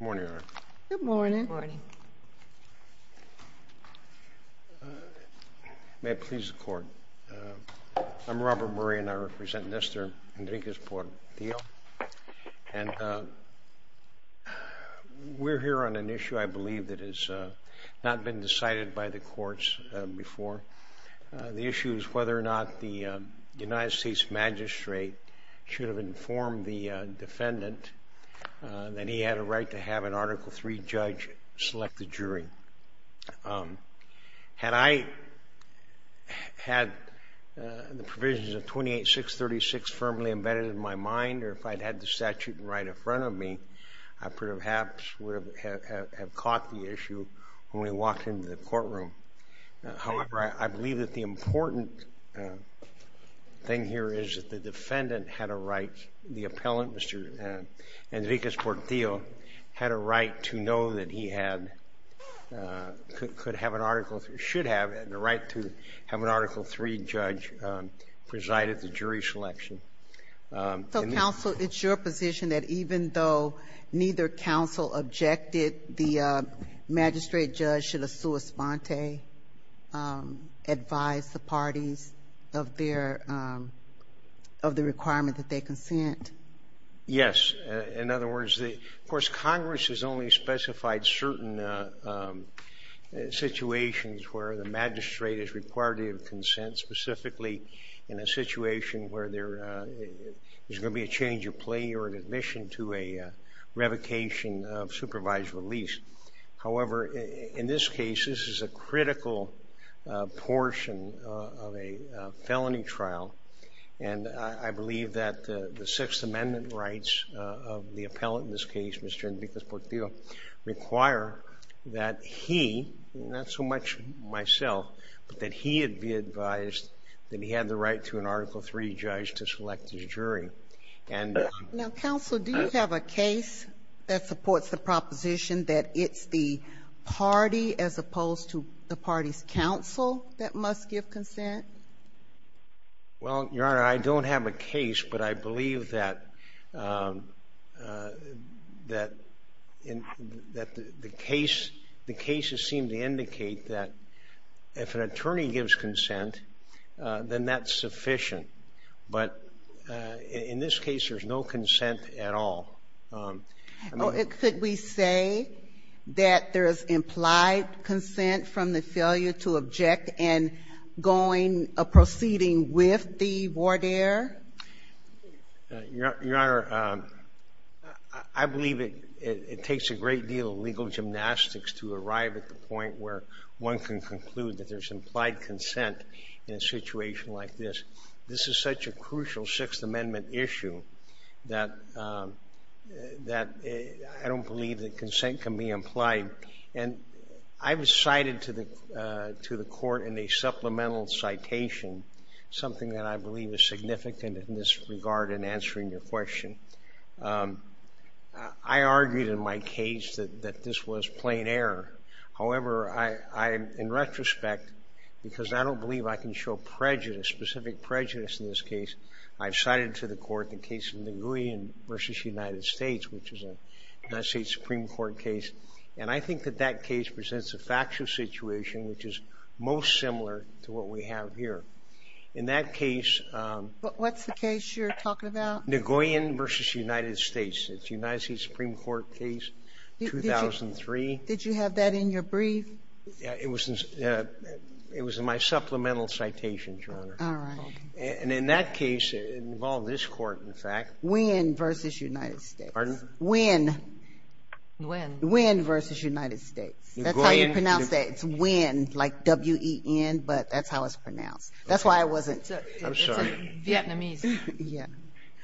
Good morning. May it please the court. I'm Robert Murray and I represent Nestor Henriquez-Portillo and we're here on an issue I believe that has not been decided by the courts before. The issue is whether or not the United States magistrate should have informed the defendant that he had a right to have an Article III judge select the jury. Had I had the provisions of 28.636 firmly embedded in my mind or if I'd had the statute right in front of me, I perhaps would have caught the issue when we walked into the courtroom. However, I the defendant had a right, the appellant, Mr. Henriquez-Portillo, had a right to know that he had, could have an Article III, should have had the right to have an Article III judge preside at the jury selection. So counsel, it's your position that even though neither counsel objected, the magistrate judge should have sua sponte advised the parties of their, of the requirement that they consent? Yes. In other words, the, of course, Congress has only specified certain situations where the magistrate is required to have consent, specifically in a situation where there is going to be a change of play or an admission to a revocation of a felony trial. And I believe that the Sixth Amendment rights of the appellant in this case, Mr. Henriquez-Portillo, require that he, not so much myself, but that he had be advised that he had the right to an Article III judge to select his jury. And now, counsel, do you have a case that supports the proposition that it's the party as opposed to the party's counsel that must give consent? Well, Your Honor, I don't have a case, but I believe that, that, that the case, the cases seem to indicate that if an attorney gives consent, then that's sufficient. But in this case, there's no consent at all. Could we say that there is implied consent from the failure to object and going proceeding with the voir dire? Your Honor, I believe it takes a great deal of legal gymnastics to arrive at the point where one can conclude that there's implied consent in a situation like this. This is such a crucial Sixth Amendment issue that, that I don't believe that consent can be implied. And I was cited to the, to the court in a supplemental citation, something that I believe is significant in this regard in answering your question. I argued in my case that this was plain error. However, I, I, in my prejudice, specific prejudice in this case, I've cited to the court the case of Nagoyan v. United States, which is a United States Supreme Court case. And I think that that case presents a factual situation which is most similar to what we have here. In that case, What's the case you're talking about? Nagoyan v. United States. It's a United States Supreme Court case, 2003. Did you have that in your brief? It was, it was in my supplemental citation, Your Honor. All right. And in that case, it involved this court, in fact. Nguyen v. United States. Nguyen. Nguyen. Nguyen v. United States. Nguyen. That's how you pronounce that. It's Nguyen, like W-E-N, but that's how it's pronounced. That's why it wasn't. I'm sorry. It's a Vietnamese. Yeah.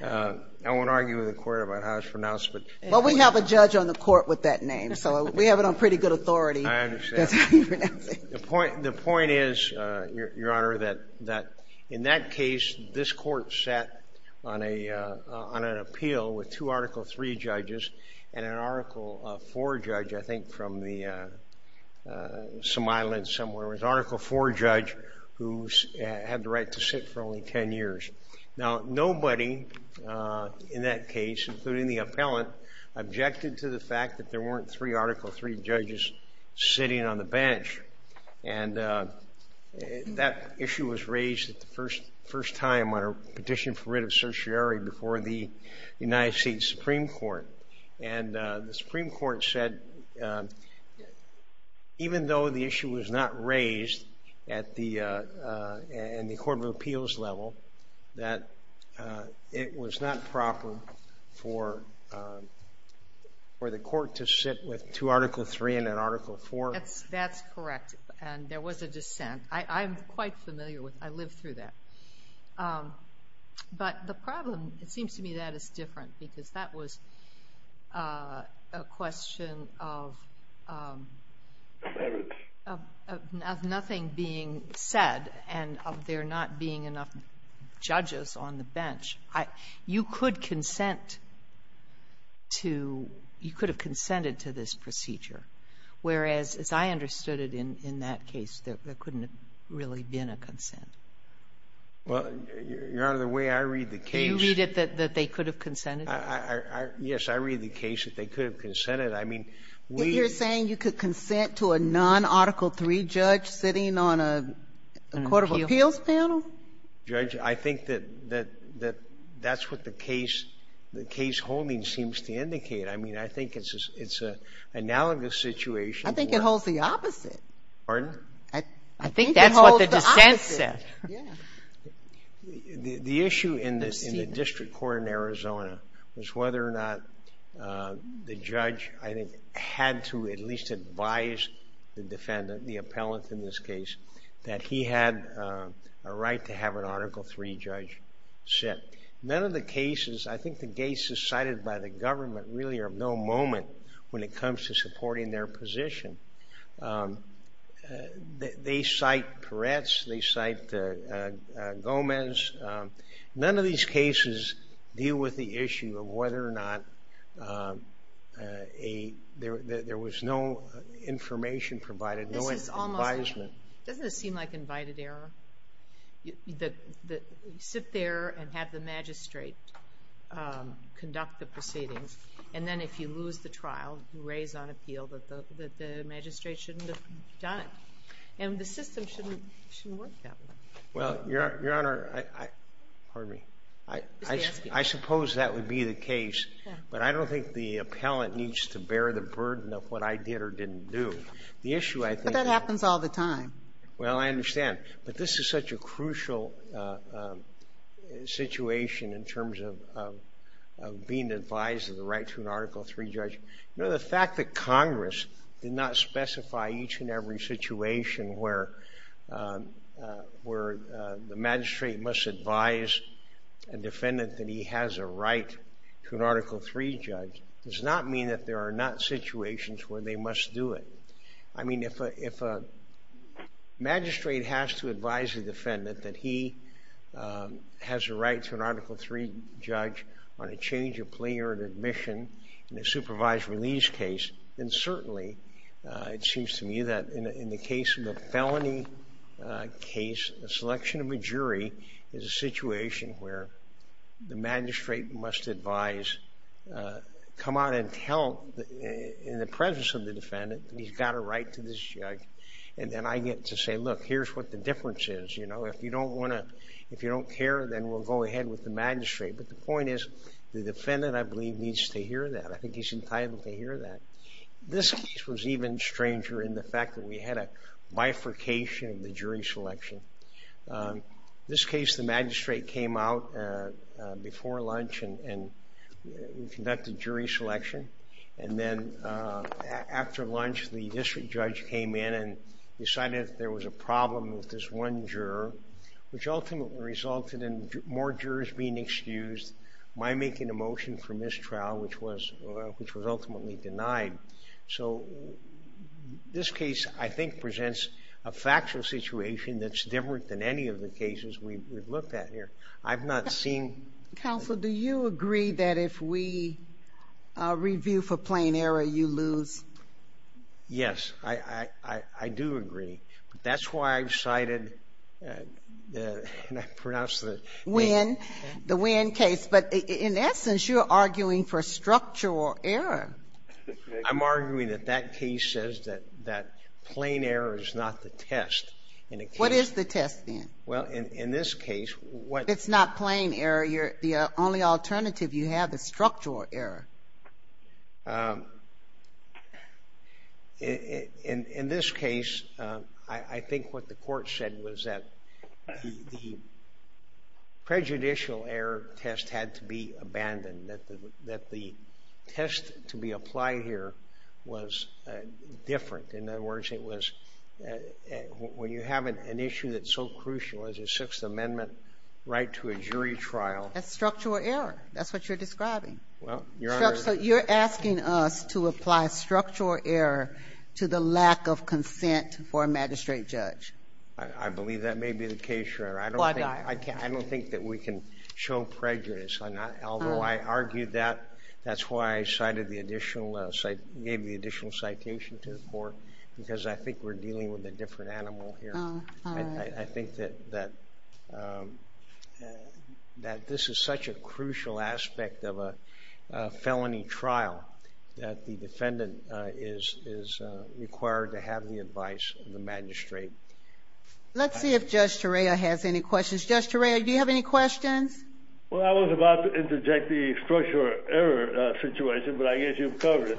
I won't argue with the court about how it's pronounced, but. Well, we have a judge on the court with that name, so we have it on pretty good authority. I understand. That's how you pronounce it. The point, the point is, Your Honor, that in that case, this court sat on a, on an appeal with two Article III judges and an Article IV judge, I think from the, some island somewhere. It was an Article IV judge who had the right to sit for only 10 years. Now, nobody in that case, including the appellant, objected to the fact that there weren't three Article III judges sitting on the bench. And that issue was raised the first, first time on a petition for writ of certiorari before the United States Supreme Court. And the Supreme Court said, even though the issue was not raised at the, in the Court of Appeals level, that it was not proper for, for the court to sit with two Article III and an Article IV. That's, that's correct. And there was a dissent. I, I'm quite familiar with, I lived through that. But the problem, it seems to me that is different because that was a question of, of, of nothing being said and of there not being enough judges on the bench. I, you could consent to, you could have consented to this procedure, whereas, as I understood it in, in that case, there couldn't have really been a consent. Well, Your Honor, the way I read the case. Do you read it that, that they could have consented? I, I, I, yes, I read the case that they could have consented. I mean, we. You're saying you could consent to a non-Article III judge sitting on a Court of Appeals panel? Judge, I think that, that, that, that's what the case, the case holding seems to indicate. I mean, I think it's, it's an analogous situation. I think it holds the opposite. Pardon? I think it holds the opposite. I think that's what the dissent said. Yeah. The, the issue in the, in the district court in Arizona was whether or not the judge, I think, had to at least advise the defendant, the appellant in this case, that he had a right to have an Article III judge sit. None of the cases, I think the cases cited by the government really are of no moment when it comes to supporting their position. They, they cite Peretz, they cite Gomez. None of these cases deal with the issue of whether or not a, there, there was no information provided, no advisement. This is almost, doesn't it seem like invited error? The, the, sit there and have the magistrate conduct the proceedings. And then if you lose the trial, you raise on appeal that the, that the magistrate shouldn't have done it. And the system shouldn't, shouldn't work that way. Well, Your Honor, I, I, pardon me. I, I, I suppose that would be the case. But I don't think the appellant needs to bear the burden of what I did or didn't do. The issue, I think. But that happens all the time. Well, I understand. But this is such a crucial situation in terms of, of, of being advised of the right to an Article III judge. You know, the fact that Congress did not specify each and every situation where, where the magistrate must advise a defendant that he has a right to an Article III judge does not mean that there are not situations where they must do it. I mean, if a, if a magistrate has to advise a defendant that he has a right to an Article III judge on a change of plea or an admission in a supervised release case, then certainly it seems to me that in, in the case of a felony case, a selection of a jury is a situation where the magistrate must advise, come out and tell in the presence of the defendant that he's got a right to this judge. And then I get to say, look, here's what the difference is. You know, if you don't want to, if you don't care, then we'll go ahead with the magistrate. But the point is, the defendant, I believe, needs to hear that. I think he's entitled to hear that. This case was even stranger in the fact that we had a bifurcation of the jury selection. This case, the magistrate came out before lunch and, and conducted jury selection. And then after lunch, the district judge came in and decided there was a problem with this one juror, which ultimately resulted in more jurors being excused, my making a motion for mistrial, which was, which was ultimately denied. So this case, I think, presents a factual situation that's different than any of the cases we've looked at here. I've not seen... Counsel, do you agree that if we review for plain error, you lose? Yes, I, I, I do agree. But that's why I've cited the, and I pronounce the... Nguyen, the Nguyen case. But in essence, you're arguing for structural error. I'm arguing that that case says that, that plain error is not the test in a case... What is the test, then? Well, in, in this case, what... If it's not plain error, you're, the only alternative you have is structural error. In, in, in this case, I, I think what the court said was that the, the prejudicial error test had to be abandoned, that the, that the test to be applied here was different. In other words, it was, when you have an issue that's so crucial as a Sixth Amendment right to a jury trial... That's structural error. That's what you're describing. Well, Your Honor... So you're asking us to apply structural error to the lack of consent for a magistrate judge. I, I believe that may be the case, Your Honor. I don't think... I don't think that we can show prejudice. Although I argue that, that's why I cited the additional, gave the additional citation to the court, because I think we're dealing with a different animal here. I, I think that, that, that this is such a crucial aspect of a felony trial, that the defendant is, is required to have the advice of the magistrate. Let's see if Judge Torreya has any questions. Judge Torreya, do you have any questions? Well, I was about to interject the structural error situation, but I guess you've covered it.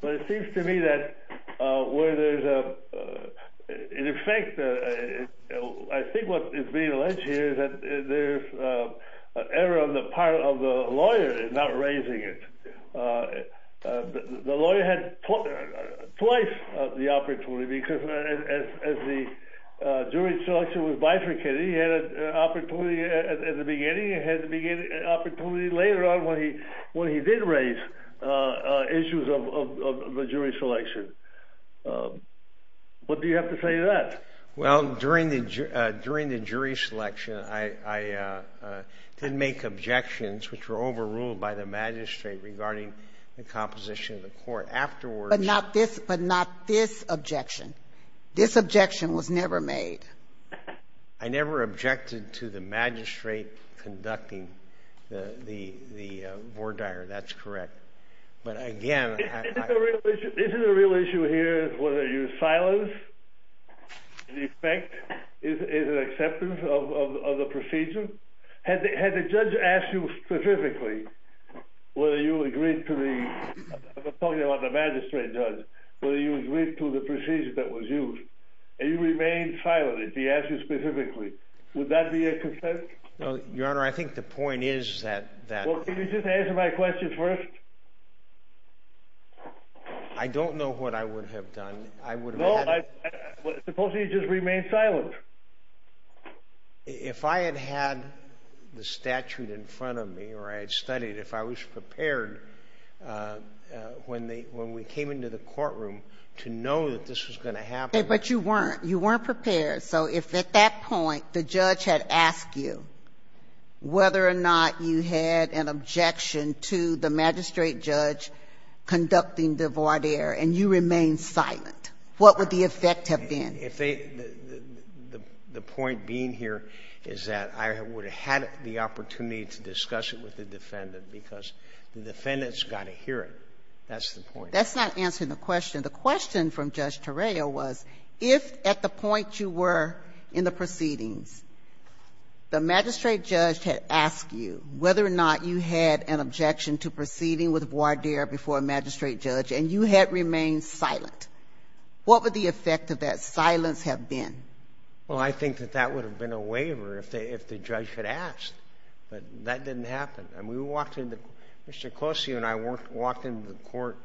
But it seems to me that where there's a, in effect, I think what is being alleged here is that there's an error on the part of the lawyer in not raising it. The lawyer had twice the opportunity, because as the jury selection was bifurcated, he had an opportunity at the beginning, he had an opportunity later on when he, he did raise issues of, of, of the jury selection. What do you have to say to that? Well, during the, during the jury selection, I, I didn't make objections, which were overruled by the magistrate regarding the composition of the court. Afterwards... But not this, but not this objection. This objection was never made. I never objected to the magistrate conducting the, the, the Vordaer, that's correct. But again, I... Isn't the real issue, isn't the real issue here whether you silence, in effect, is, is an acceptance of, of, of the procedure? Had the, had the judge asked you specifically whether you agreed to the, I'm talking about the magistrate judge, whether you agreed to the procedure that was used, and you remained silent if he asked you specifically, would that be a consent? Well, Your Honor, I think the point is that, that... Well, can you just answer my question first? I don't know what I would have done. I would have... No, I... Supposedly you just remained silent. If I had had the statute in front of me, or I had studied, if I was prepared, But you weren't. You weren't prepared. So if at that point the judge had asked you whether or not you had an objection to the magistrate judge conducting the Vordaer, and you remained silent, what would the effect have been? If they, the, the point being here is that I would have had the opportunity to discuss it with the defendant, because the defendant's got to hear it. That's the point. That's not answering the question. The question from Judge Terrio was, if at the point you were in the proceedings, the magistrate judge had asked you whether or not you had an objection to proceeding with Vordaer before a magistrate judge, and you had remained silent, what would the effect of that silence have been? Well, I think that that would have been a waiver if they, if the judge had asked. But that didn't happen. I mean, we walked in the, Mr. Colosio and I walked into the court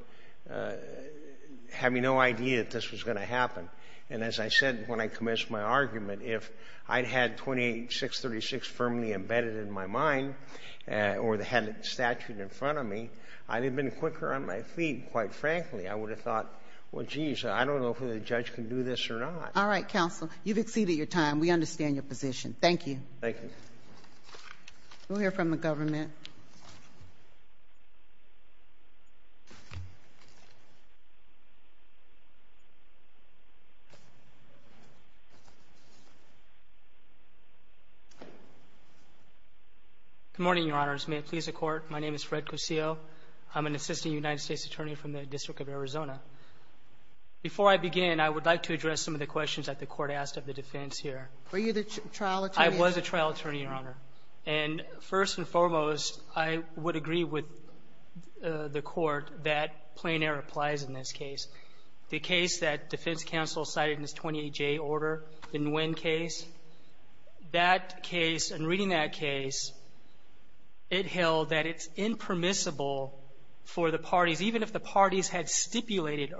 having no idea that this was going to happen. And as I said when I commenced my argument, if I'd had 28-636 firmly embedded in my mind, or they had a statute in front of me, I'd have been quicker on my feet, quite frankly. I would have thought, well, geez, I don't know if the judge can do this or not. All right, counsel. You've exceeded your time. We understand your position. Thank you. Thank you. We'll hear from the government. Good morning, Your Honors. May it please the Court, my name is Fred Colosio. I'm an assistant United States attorney from the District of Arizona. Before I begin, I would like to address some of the questions that the Court asked of the defense here. Were you the trial attorney? I was a trial attorney, Your Honor. And first and foremost, I would agree with the Court that plain air applies in this case. The case that defense counsel cited in this 28-J order, the Nguyen case, that case and reading that case, it held that it's impermissible for the parties, even if the parties had stipulated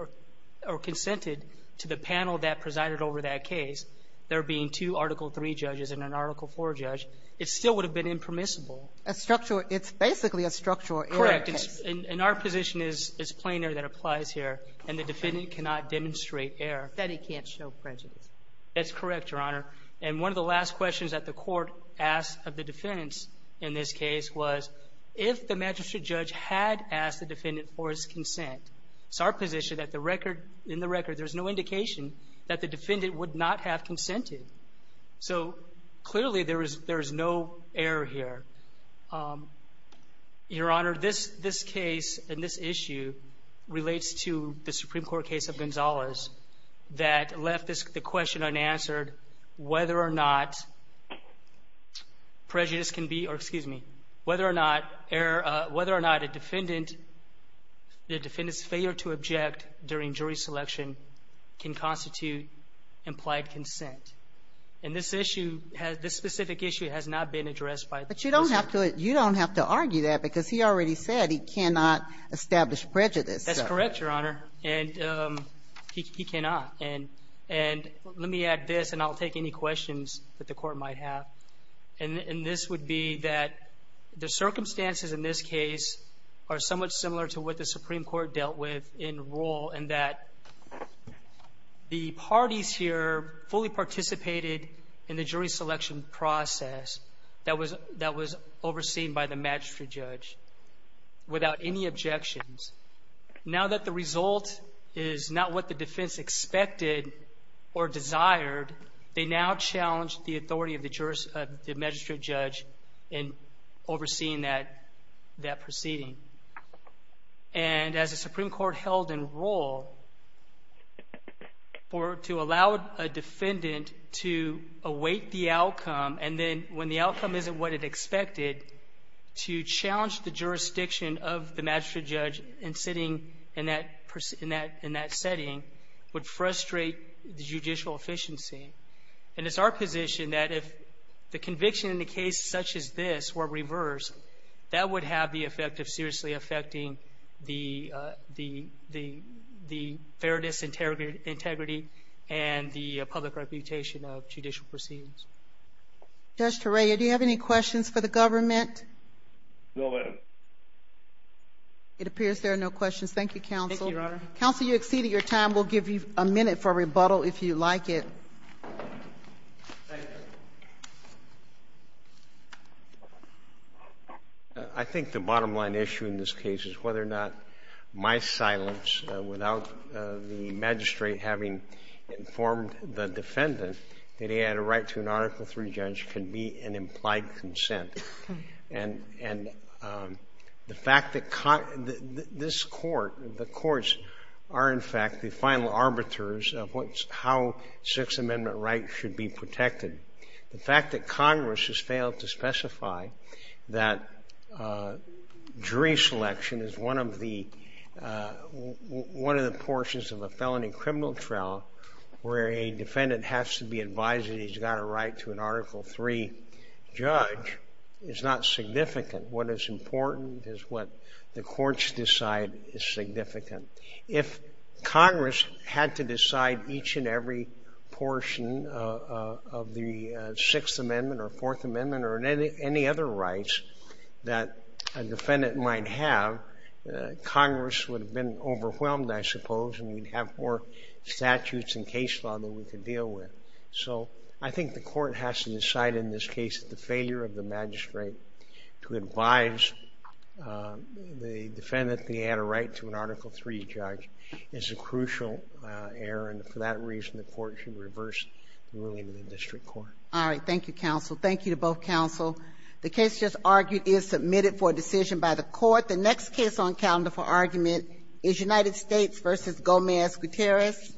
or consented to the panel that presided over that case, there being two Article III judges and an Article IV judge, it still would have been impermissible. A structural – it's basically a structural error case. Correct. And our position is it's plain air that applies here, and the defendant cannot demonstrate error. That he can't show prejudice. That's correct, Your Honor. And one of the last questions that the Court asked of the defendants in this case was if the magistrate judge had asked the defendant for his consent, it's our position that the record – in the record, there's no indication that the defendant would not have consented. So, clearly, there is no error here. Your Honor, this case and this issue relates to the Supreme Court case of Gonzales that left the question unanswered whether or not prejudice can be – or, excuse me, whether or not error – whether or not a defendant – the defendant's failure to object during jury selection can constitute implied consent. And this issue has – this specific issue has not been addressed by the judge. But you don't have to – you don't have to argue that, because he already said he cannot establish prejudice. That's correct, Your Honor. And he cannot. And let me add this, and I'll take any questions that the Court might have. And this would be that the circumstances in this case are somewhat similar to what the Supreme Court dealt with in rule, and that the parties here fully participated in the jury selection process that was – that was overseen by the magistrate judge without any objections. Now that the result is not what the defense expected or desired, they now challenge the authority of the magistrate judge in overseeing that proceeding. And as the Supreme Court held in rule, for – to allow a defendant to await the outcome and then, when the outcome isn't what it expected, to challenge the jurisdiction of the magistrate judge in sitting in that – in that setting would frustrate the judicial efficiency. And it's our position that if the conviction in a case such as this were reversed, that would have the effect of seriously affecting the – the fairness, integrity, and the public reputation of judicial proceedings. Judge Torreya, do you have any questions for the government? No, Madam. It appears there are no questions. Thank you, Counsel. Thank you, Your Honor. Counsel, you exceeded your time. We'll give you a minute for rebuttal if you like it. Thank you. I think the bottom-line issue in this case is whether or not my silence without the magistrate having informed the defendant that he had a right to an Article III judge can be an implied consent. And – and the fact that – this Court – the courts are, in fact, the final arbiters of what's – how Sixth Amendment rights should be protected. The fact that Congress has failed to specify that jury selection is one of the – one of the portions of a felony criminal trial where a defendant has to be advised that he's got a right to an Article III judge is not significant. What is important is what the courts decide is significant. If Congress had to decide each and every portion of the Sixth Amendment or Fourth Amendment or any other rights that a defendant might have, Congress would have been overwhelmed, I suppose, and we'd have more statutes and case law than we could deal with. So I think the court has to decide in this case that the failure of the magistrate to advise the defendant that he had a right to an Article III judge is a crucial error, and for that reason the court should reverse the ruling of the district court. All right. Thank you, counsel. Thank you to both counsel. The case just argued is submitted for decision by the court. The next case on calendar for argument is United States v. Gomez-Gutierrez.